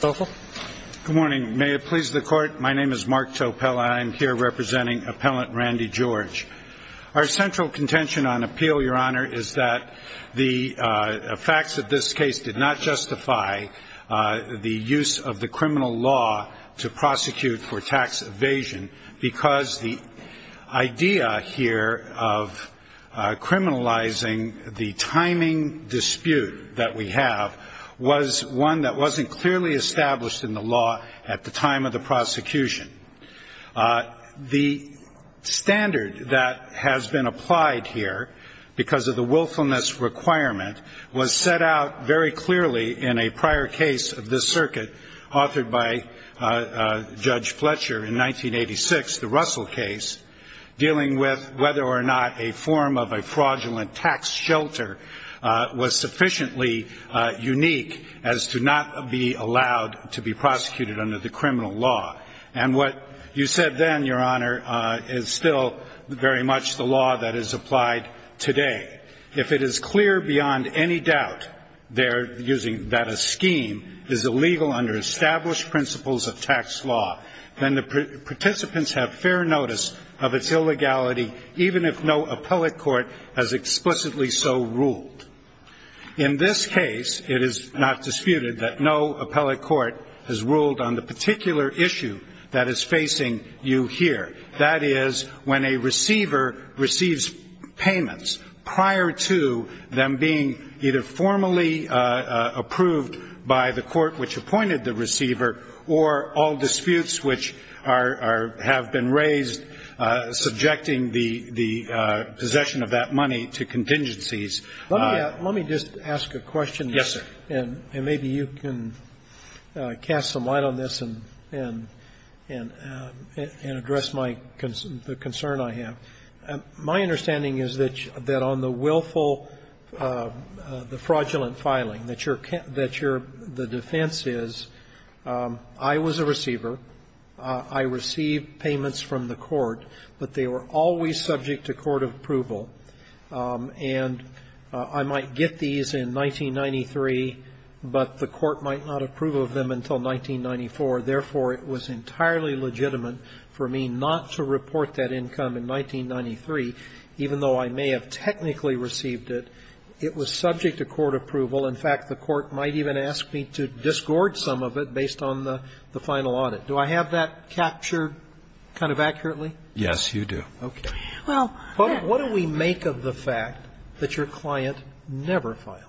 Good morning. May it please the court. My name is Mark Topel and I'm here representing Appellant Randy George. Our central contention on appeal, your honor, is that the facts of this case did not justify the use of the criminal law to prosecute for tax evasion because the clearly established in the law at the time of the prosecution. The standard that has been applied here because of the willfulness requirement was set out very clearly in a prior case of this circuit authored by Judge Fletcher in 1986, the Russell case, dealing with whether or not a form of a fraudulent tax shelter was sufficiently unique as to not be allowed to be prosecuted under the criminal law. And what you said then, your honor, is still very much the law that is applied today. If it is clear beyond any doubt there using that a scheme is illegal under established principles of tax law, then the participants have fair notice of its illegality, even if no appellate court has explicitly so ruled. In this case, it is not disputed that no appellate court has ruled on the particular issue that is facing you here. That is, when a receiver receives payments prior to them being either formally approved by the court which appointed the receiver, or all disputes which are or have been raised subjecting the possession of that money to contingencies. Let me just ask a question. Yes, sir. And maybe you can cast some light on this and address the concern I have. My understanding is that on the willful, the fraudulent filing, that the defense is, I was a receiver. I received payments from the court, but they were always subject to court approval. And I might get these in 1993, but the court might not approve of them until 1994. Therefore, it was entirely legitimate for me not to report that income in 1993, even though I may have technically received it. It was subject to court approval. In fact, the court might even ask me to discord some of it based on the final audit. Do I have that captured kind of accurately? Yes, you do. Okay. Well, what do we make of the fact that your client never filed?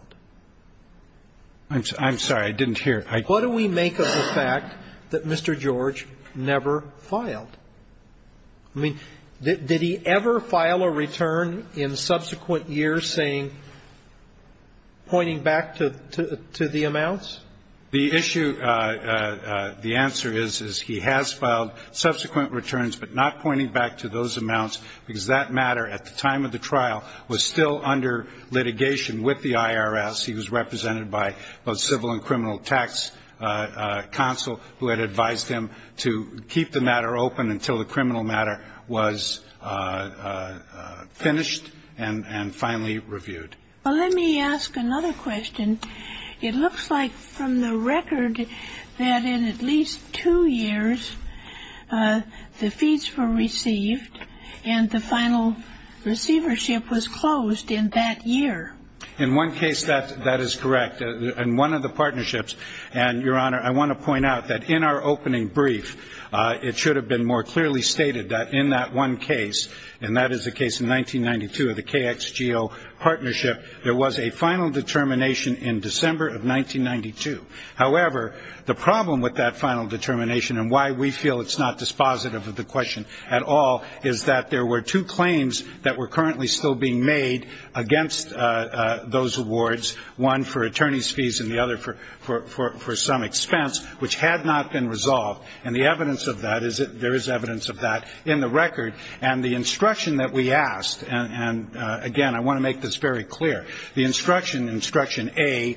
I'm sorry. I didn't hear. What do we make of the fact that Mr. George never filed? I mean, did he ever file a return in subsequent years saying, pointing back to the amounts? The issue, the answer is, is he has filed subsequent returns, but not pointing back to those amounts, because that matter at the time of the trial was still under litigation with the IRS. He was represented by both civil and criminal tax counsel who had advised him to keep the matter open until the criminal matter was finished and finally reviewed. Well, let me ask another question. It looks like from the record that in at least two years, the fees were received and the final receivership was closed in that year. In one case, that is correct. In one of the partnerships, and, Your Honor, I want to point out that in our opening brief, it should have been more clearly stated that in that one case, and that is the case in 1992 of the KXGO partnership, there was a final determination in December of 1992. However, the problem with that final determination and why we feel it's not dispositive of the question at all is that there were two claims that were currently still being made against those awards, one for attorney's fees and the other for some expense, which had not been resolved. And the evidence of that is that there is evidence of that in the record. And the instruction that we asked, and, again, I want to make this very clear, the instruction A,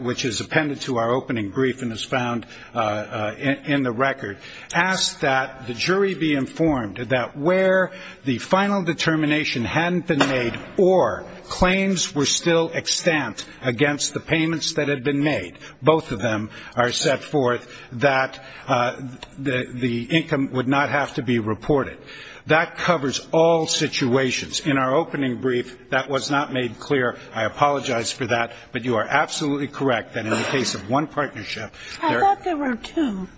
which is appended to our opening brief and is found in the record, asks that the jury be informed that where the final determination hadn't been made or claims were still extant against the payments that had been made, both of them are set forth that the income would not have to be reported. That covers all situations. In our opening brief, that was not made clear. I apologize for that. But you are absolutely correct that in the case of one partnership there are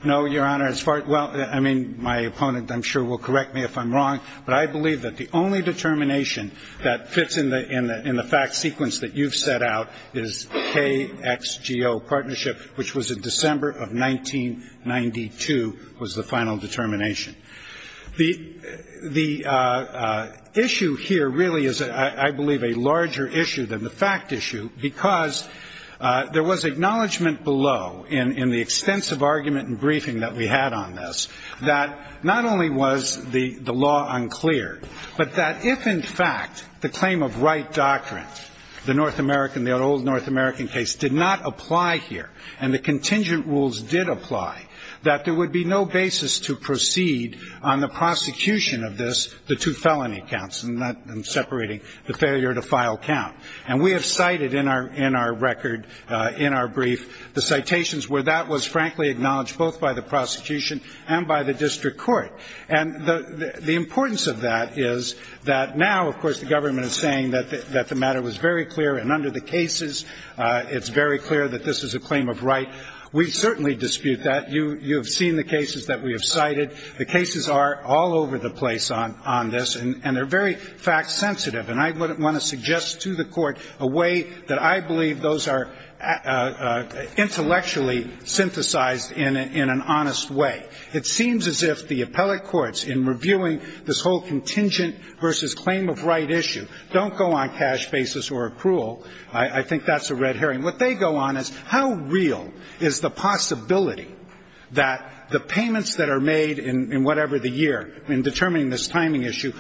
no, Your Honor, as far as well, I mean, my opponent I'm sure will correct me if I'm wrong, but I believe that the only determination that fits in the fact sequence that you've set out is KXGO partnership, which was in December of 1992 was the final determination. The issue here really is, I believe, a larger issue than the fact issue because there was acknowledgment below in the extensive argument and briefing that we had on this that not only was the law unclear, but that if, in fact, the claim of right doctrine, the North American, the old North American case, did not apply here and the contingent rules did apply, that there would be no basis to proceed on the prosecution of this, the two felony counts, and not separating the failure to file count. And we have cited in our record, in our brief, the citations where that was frankly acknowledged both by the prosecution and by the district court. And the importance of that is that now, of course, the government is saying that the matter was very clear and under the cases, it's very clear that this is a claim of right. We certainly dispute that. You have seen the cases that we have cited. The cases are all over the place on this, and they're very fact-sensitive. And I would want to suggest to the Court a way that I believe those are intellectually synthesized in an honest way. It seems as if the appellate courts, in reviewing this whole contingent versus claim of right issue, don't go on cash basis or accrual. I think that's a red herring. What they go on is, how real is the possibility that the payments that are made in whatever the year in determining this timing issue,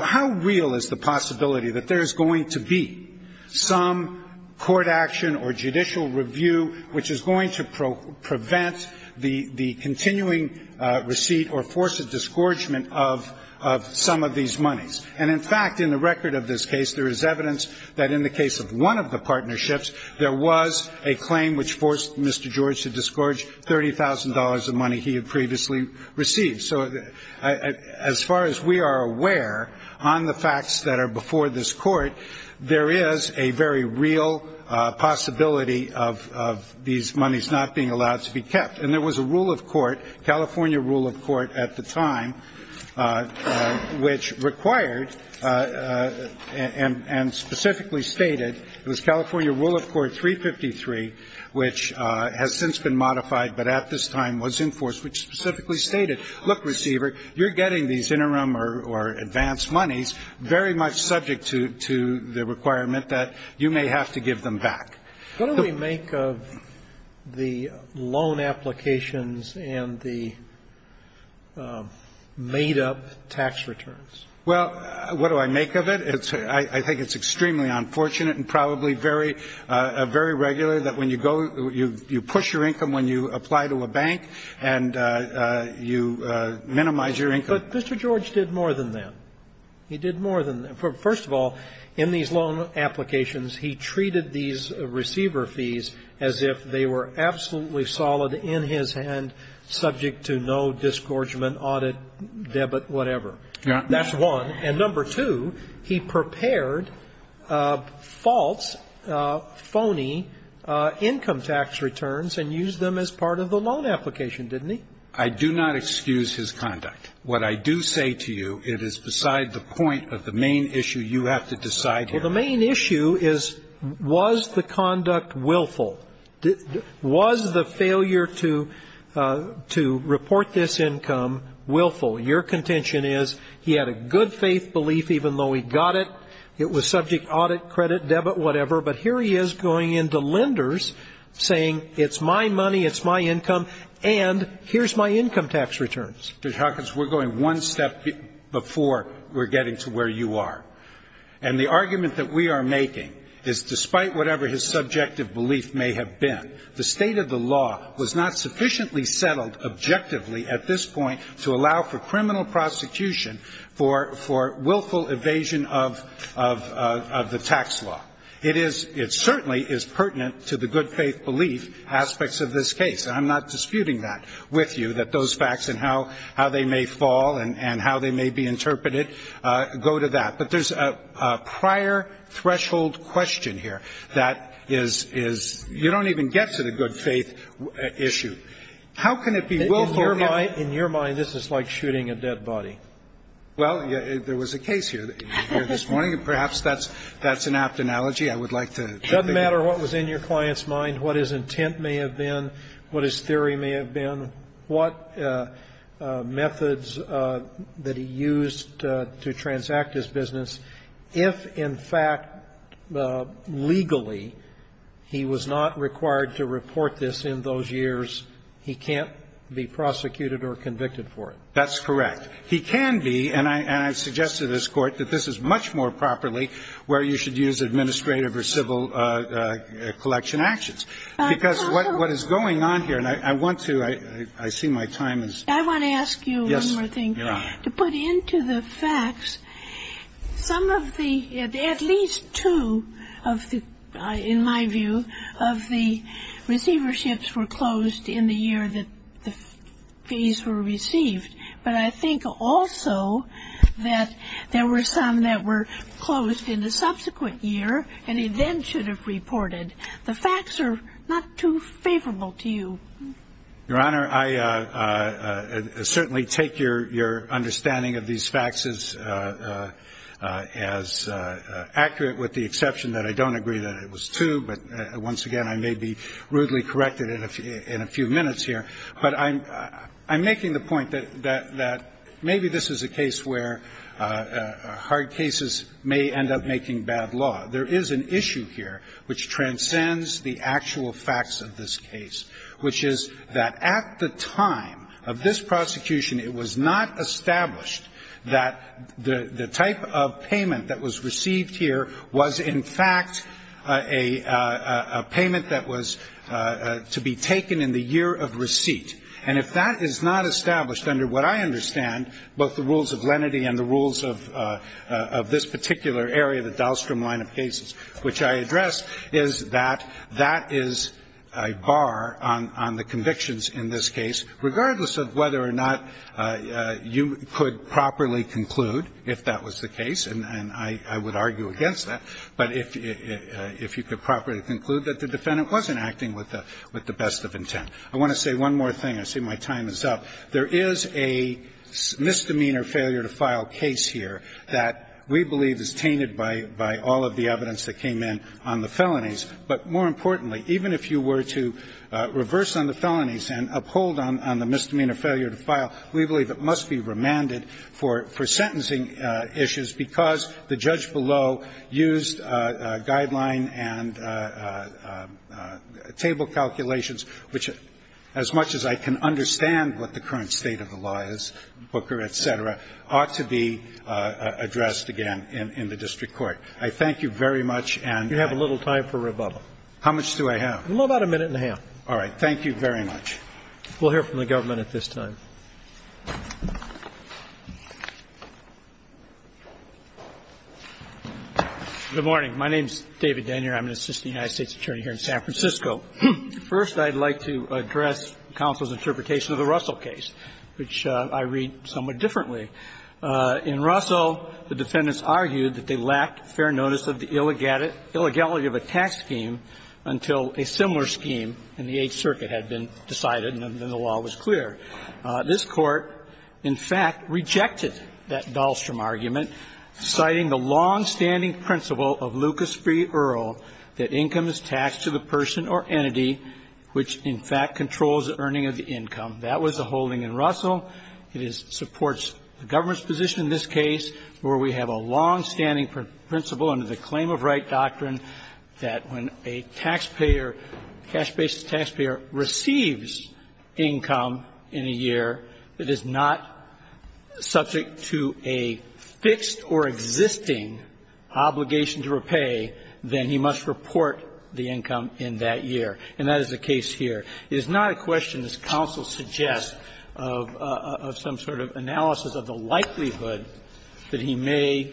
how real is the possibility that there is going to be some court action or judicial review which is going to prevent the continuing receipt or force a disgorgement of some of these monies? And, in fact, in the record of this case, there is evidence that in the case of one of the partnerships, there was a claim which forced Mr. George to disgorge $30,000 of money he had previously received. So as far as we are aware, on the facts that are before this Court, there is a very real possibility of these monies not being allowed to be kept. And there was a rule of court, California rule of court at the time, which required and specifically stated, it was California rule of court 353, which has since been modified but at this time was enforced, which specifically stated, look, receiver, you're getting these interim or advanced monies very much subject to the requirement that you may have to give them back. What do we make of the loan applications and the made-up tax returns? Well, what do I make of it? I think it's extremely unfortunate and probably very regular that when you go, you push your income when you apply to a bank, and you minimize your income. But Mr. George did more than that. He did more than that. First of all, in these loan applications, he treated these receiver fees as if they were absolutely solid in his hand, subject to no disgorgement, audit, debit, whatever. That's one. And number two, he prepared false, phony income tax returns and used them as part of the loan application, didn't he? I do not excuse his conduct. What I do say to you, it is beside the point of the main issue you have to decide Well, the main issue is, was the conduct willful? Was the failure to report this income willful? Your contention is he had a good-faith belief, even though he got it. It was subject, audit, credit, debit, whatever. But here he is going into lenders, saying it's my money, it's my income, and here's my income tax returns. Judge Hawkins, we're going one step before we're getting to where you are. And the argument that we are making is, despite whatever his subjective belief may have been, the state of the law was not sufficiently settled objectively at this point to allow for criminal prosecution for willful evasion of the tax law. It certainly is pertinent to the good-faith belief aspects of this case. I'm not disputing that with you, that those facts and how they may fall and how they may be interpreted go to that. But there's a prior threshold question here that is, you don't even get to the good-faith issue. How can it be willful? In your mind, this is like shooting a dead body. Well, there was a case here this morning, and perhaps that's an apt analogy. I would like to. It doesn't matter what was in your client's mind, what his intent may have been, what his theory may have been, what methods that he used to transact his business. If, in fact, legally, he was not required to report this in those years, he can't be prosecuted or convicted for it. That's correct. He can be, and I suggest to this Court that this is much more properly where you should use administrative or civil collection actions. Because what is going on here, and I want to, I see my time is. I want to ask you one more thing to put into the facts. Some of the, at least two of the, in my view, of the receiverships were closed in the year that these were received. But I think also that there were some that were closed in the subsequent year and he then should have reported. The facts are not too favorable to you. Your Honor, I certainly take your understanding of these facts as accurate, with the exception that I don't agree that it was two. But once again, I may be rudely corrected in a few minutes here. But I'm making the point that maybe this is a case where hard cases may end up making bad law. There is an issue here which transcends the actual facts of this case, which is that at the time of this prosecution, it was not established that the type of payment that was received here was in fact a payment that was to be taken in the year of receipt. And if that is not established under what I understand, both the rules of lenity and the rules of this particular area, the Dahlstrom line of cases, which I addressed, is that that is a bar on the convictions in this case, regardless of whether or not you could properly conclude, if that was the case, and I would argue against that, but if you could properly conclude that the defendant wasn't acting with the best of intent. I want to say one more thing. I see my time is up. There is a misdemeanor failure to file case here that we believe is tainted by all of the evidence that came in on the felonies. But more importantly, even if you were to reverse on the felonies and uphold on the misdemeanor failure to file, we believe it must be remanded for sentencing issues, because the judge below used guideline and table calculations, which, as much as I can understand what the current state of the law is, Booker, et cetera, ought to be addressed again in the district court. I thank you very much, and I have a little time for rebuttal. How much do I have? About a minute and a half. All right. Thank you very much. We'll hear from the government at this time. Good morning. My name is David Denyer. I'm an assistant United States attorney here in San Francisco. First, I'd like to address counsel's interpretation of the Russell case, which I read somewhat differently. In Russell, the defendants argued that they lacked fair notice of the illegality of a tax scheme until a similar scheme in the Eighth Circuit had been decided and then the law was clear. This Court, in fact, rejected that Dahlstrom argument, citing the longstanding principle of Lucas v. Earl that income is taxed to the person or entity which, in fact, controls the earning of the income. That was the holding in Russell. It supports the government's position in this case where we have a longstanding principle under the claim of right doctrine that when a taxpayer, cash-based taxpayer, receives income in a year, it is not subject to a fixed or existing obligation to repay, then he must report the income in that year. And that is the case here. It is not a question, as counsel suggests, of some sort of analysis of the likelihood that he may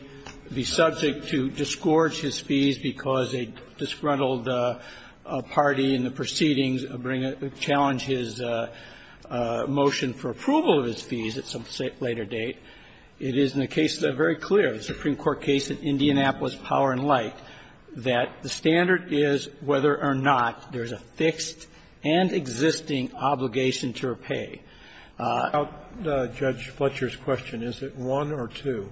be subject to disgorge his fees because a disgruntled party in the proceedings bring a challenge his motion for approval of his fees at some later date. It is in the case that is very clear, the Supreme Court case in Indianapolis Power and Light, that the standard is whether or not there is a fixed and existing obligation to repay. I'll stop Judge Fletcher's question. Is it one or two?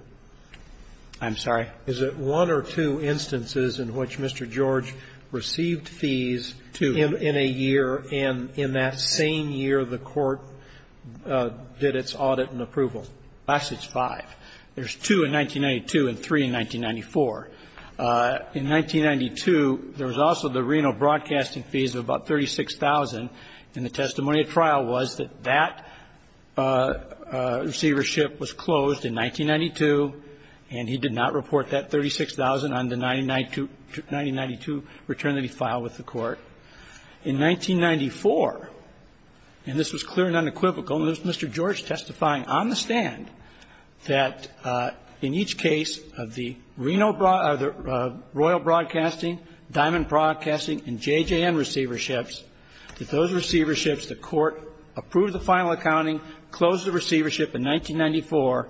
I'm sorry? Is it one or two instances in which Mr. George received fees in a year and in that same year the Court did its audit and approval? I guess it's five. There's two in 1992 and three in 1994. In 1992, there was also the Reno broadcasting fees of about $36,000, and the testimony at trial was that that receivership was closed in 1992, and he did not report that $36,000 on the 1992 return that he filed with the Court. In 1994, and this was clear and unequivocal, and it was Mr. George testifying on the stand, that in each case of the Reno royal broadcasting, Diamond Broadcasting and JJN receiverships, that those receiverships, the Court approved the final accounting, closed the receivership in 1994,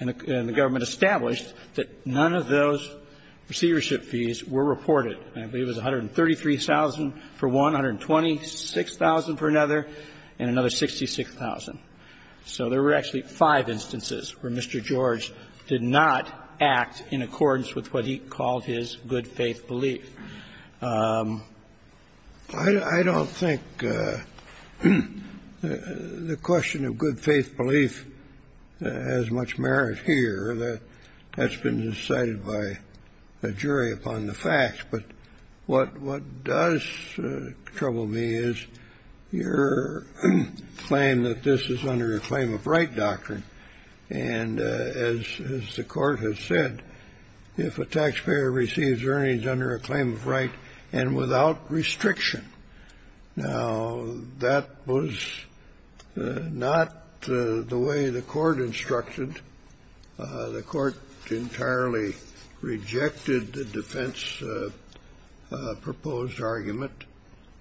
and the government established that none of those receivership fees were reported. I believe it was $133,000 for one, $126,000 for another, and another $66,000. So there were actually five instances where Mr. George did not act in accordance with what he called his good-faith belief. I don't think the question of good-faith belief has much merit here. That's been decided by the jury upon the facts. But what does trouble me is your claim that this is under a claim-of-right doctrine. And as the Court has said, if a taxpayer receives earnings under a claim-of-right and without restriction, now, that was not the way the Court instructed. The Court entirely rejected the defense-proposed argument,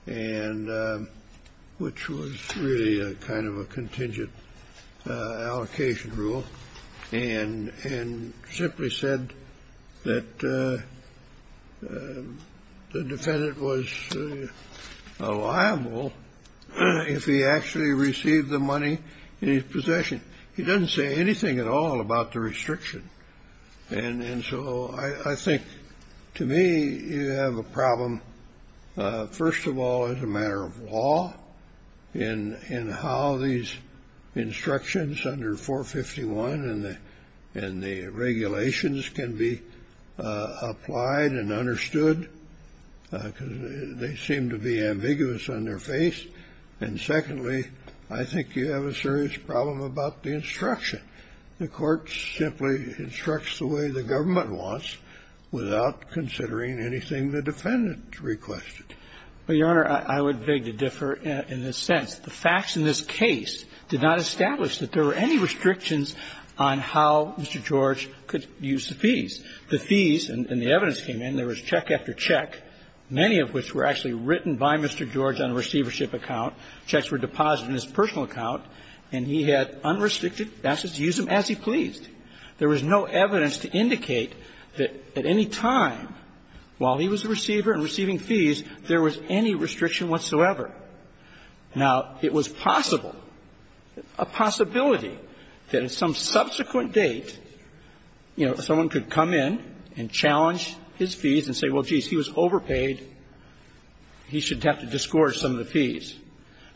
which was really a kind of a contingent allocation rule, and simply said that the defendant was liable if he actually received the money in his possession. He doesn't say anything at all about the restriction. And so I think, to me, you have a problem, first of all, as a matter of law, in how these instructions under 451 and the regulations can be applied and understood, because they seem to be ambiguous on their face. And secondly, I think you have a serious problem about the instruction. The Court simply instructs the way the government wants without considering anything the defendant requested. Well, Your Honor, I would beg to differ in this sense. The facts in this case did not establish that there were any restrictions on how Mr. George could use the fees. The fees and the evidence came in. There was check after check, many of which were actually written by Mr. George on a receivership account. Checks were deposited in his personal account, and he had unrestricted access to use them as he pleased. There was no evidence to indicate that at any time, while he was a receiver and receiving fees, there was any restriction whatsoever. Now, it was possible, a possibility, that at some subsequent date, you know, someone could come in and challenge his fees and say, well, geez, he was overpaid, he should have to discourse some of the fees.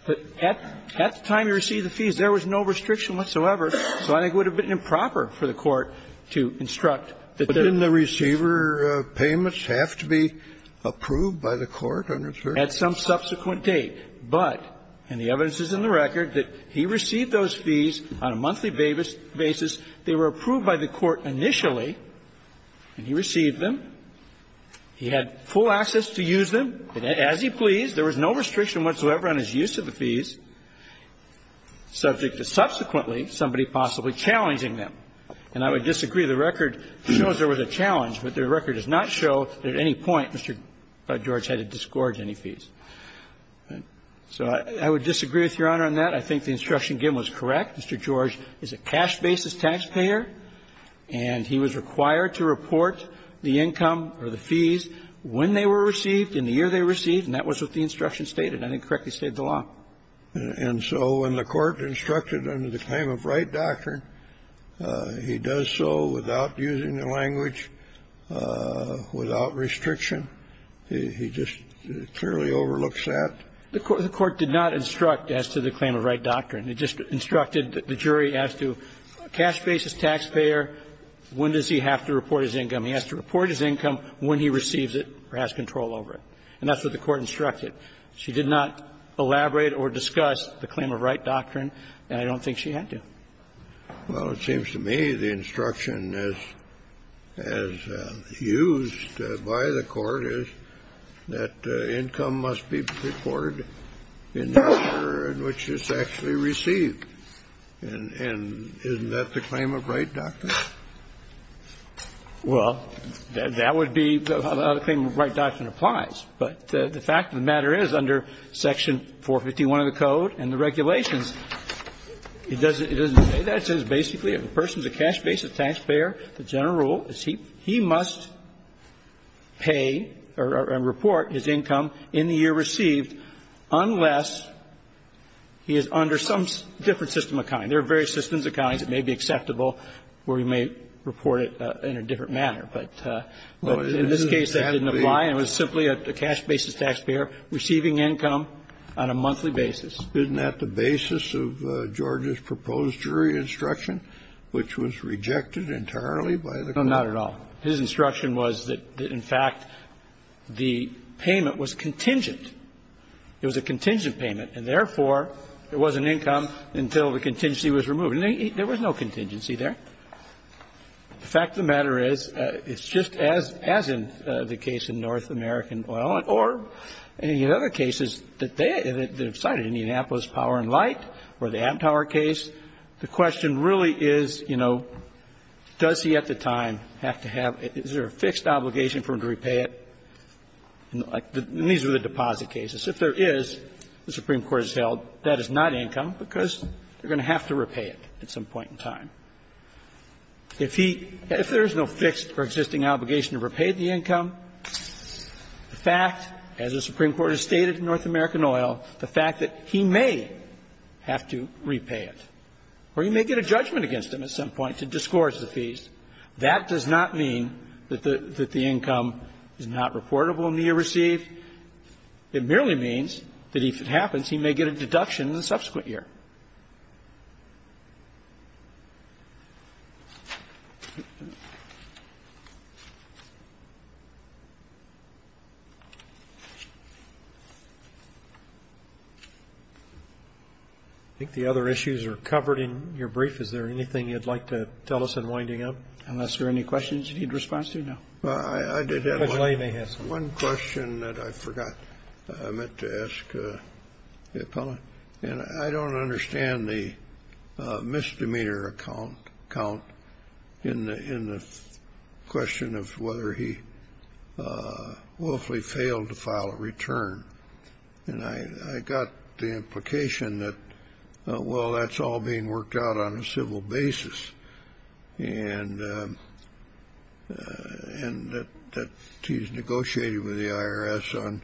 But at the time he received the fees, there was no restriction whatsoever. So I think it would have been improper for the Court to instruct that there was no restriction. Kennedy, but didn't the receiver payments have to be approved by the Court on return? At some subsequent date. But, and the evidence is in the record, that he received those fees on a monthly basis. They were approved by the Court initially, and he received them. He had full access to use them as he pleased. There was no restriction whatsoever on his use of the fees, subject to subsequently somebody possibly challenging them. And I would disagree. The record shows there was a challenge, but the record does not show that at any point Mr. George had to discourage any fees. So I would disagree with Your Honor on that. I think the instruction given was correct. Mr. George is a cash basis taxpayer, and he was required to report the income or the fees when they were received, in the year they were received, and that was what the instruction stated. I think it correctly stated the law. And so when the Court instructed under the claim of right doctrine, he does so without using the language, without restriction. He just clearly overlooks that. The Court did not instruct as to the claim of right doctrine. It just instructed that the jury asked to, cash basis taxpayer, when does he have to report his income? He has to report his income when he receives it or has control over it. And that's what the Court instructed. She did not elaborate or discuss the claim of right doctrine, and I don't think she had to. Well, it seems to me the instruction as used by the Court is that income must be reported in the year in which it's actually received. And isn't that the claim of right doctrine? Well, that would be how the claim of right doctrine applies. But the fact of the matter is, under Section 451 of the Code and the regulations, it doesn't say that. It says basically, if a person is a cash basis taxpayer, the general rule is he must pay or report his income in the year received unless he is under some different system of accounting. There are various systems of accounting that may be acceptable, where you may report it in a different manner. But in this case, that didn't apply, and it was simply a cash basis taxpayer receiving income on a monthly basis. Isn't that the basis of George's proposed jury instruction, which was rejected entirely by the Court? No, not at all. His instruction was that, in fact, the payment was contingent. The contingency was removed, and there was no contingency there. The fact of the matter is, it's just as in the case of North American Oil, or in other cases that they have cited, Indianapolis Power and Light or the App Tower case, the question really is, you know, does he at the time have to have to have a fixed obligation for him to repay it? And these are the deposit cases. If there is, the Supreme Court has held that is not income because they're going to have to repay it at some point in time. If he – if there is no fixed or existing obligation to repay the income, the fact, as the Supreme Court has stated in North American Oil, the fact that he may have to repay it, or he may get a judgment against him at some point to discourse the fees, that does not mean that the income is not reportable in the year received. It merely means that if it happens, he may get a deduction in the subsequent year. I think the other issues are covered in your brief. Is there anything you'd like to tell us in winding up? Unless there are any questions you need response to? No. Well, I did have one question that I forgot I meant to ask the appellant. And I don't understand the misdemeanor account in the question of whether he willfully failed to file a return. And I got the implication that, well, that's all being worked out on a civil basis, and that he's negotiated with the IRS on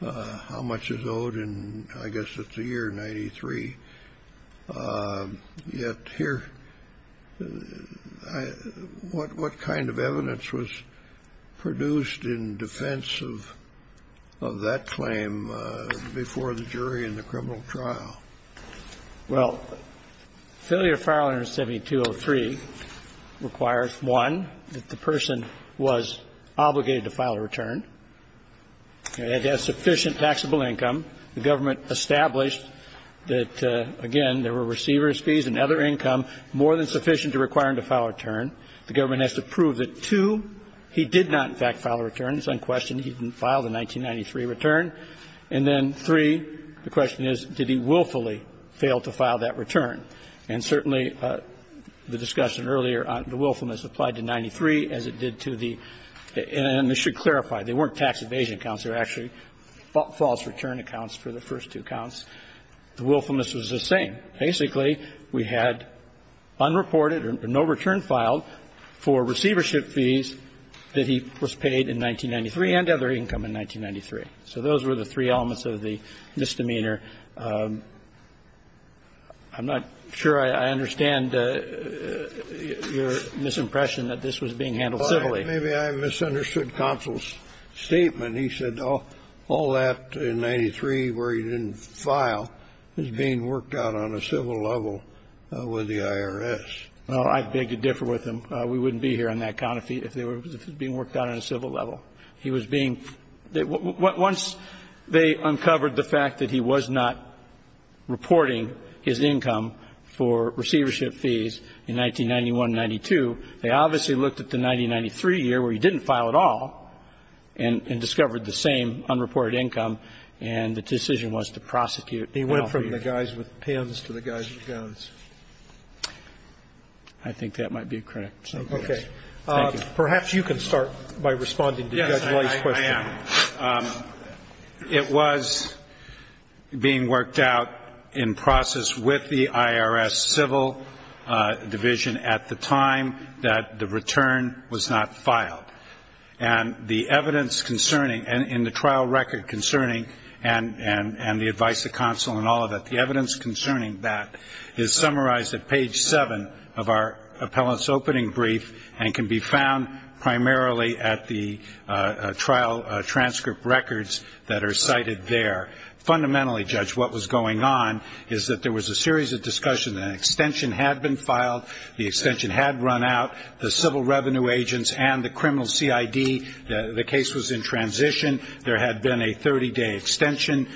how much is owed, and I guess it's a year, 93. Yet here, what kind of evidence was produced in defense of that claim before the jury in the criminal trial? Well, failure to file under 7203 requires, one, that the person was obligated to file a return. It has sufficient taxable income. The government established that, again, there were receiver's fees and other income more than sufficient to require him to file a return. The government has to prove that, two, he did not, in fact, file a return. It's unquestioned he didn't file the 1993 return. And then, three, the question is, did he willfully fail to file that return? And certainly the discussion earlier on the willfulness applied to 93 as it did to the ---- and I should clarify. They weren't tax evasion accounts. They were actually false return accounts for the first two counts. The willfulness was the same. Basically, we had unreported or no return filed for receivership fees that he was paid in 1993 and other income in 1993. So those were the three elements of the misdemeanor. I'm not sure I understand your misimpression that this was being handled civilly. Maybe I misunderstood counsel's statement. He said all that in 93 where he didn't file is being worked out on a civil level with the IRS. I beg to differ with him. We wouldn't be here on that count if it was being worked out on a civil level. He was being ---- once they uncovered the fact that he was not reporting his income for receivership fees in 1991-92, they obviously looked at the 1993 year where he didn't file at all and discovered the same unreported income, and the decision was to prosecute Alfred. He went from the guys with pens to the guys with guns. I think that might be correct. Okay. Thank you. Perhaps you can start by responding to Judge White's question. Yes, I am. It was being worked out in process with the IRS civil division at the time that the return was not filed. And the evidence concerning, in the trial record concerning, and the advice of counsel and all of that, the evidence concerning that is summarized at page 7 of our appellant's opening brief and can be found primarily at the trial transcript records that are cited there. Fundamentally, Judge, what was going on is that there was a series of discussions. An extension had been filed. The extension had run out. The civil revenue agents and the criminal CID, the case was in transition. There had been a 30-day extension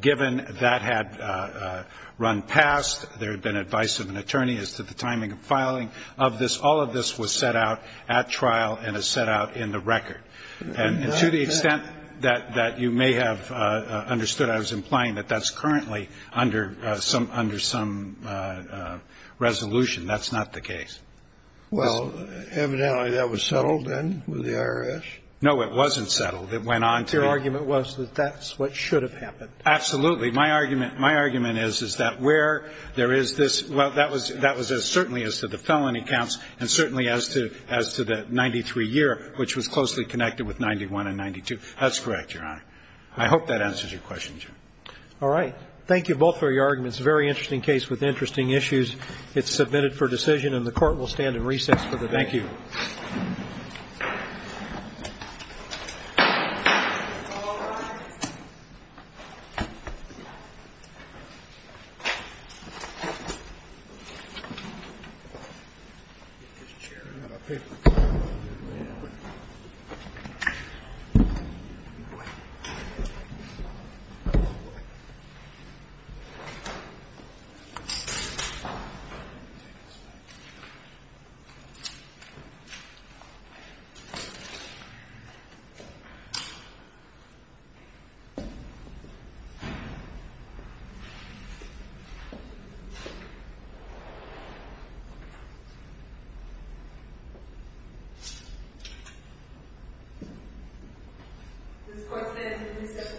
given that had run past. There had been advice of an attorney as to the timing of filing of this. All of this was set out at trial and is set out in the record. And to the extent that you may have understood, I was implying that that's currently under some resolution. That's not the case. Well, evidently that was settled then with the IRS? No, it wasn't settled. It went on to be. Your argument was that that's what should have happened. Absolutely. My argument is that where there is this, well, that was certainly as to the felony counts and certainly as to the 93-year, which was closely connected with 91 and 92. That's correct, Your Honor. I hope that answers your question, Jim. All right. Thank you both for your arguments. A very interesting case with interesting issues. It's submitted for decision and the Court will stand in recess for the debate. Thank you. This court stands in recess until 12 o'clock. Thank you.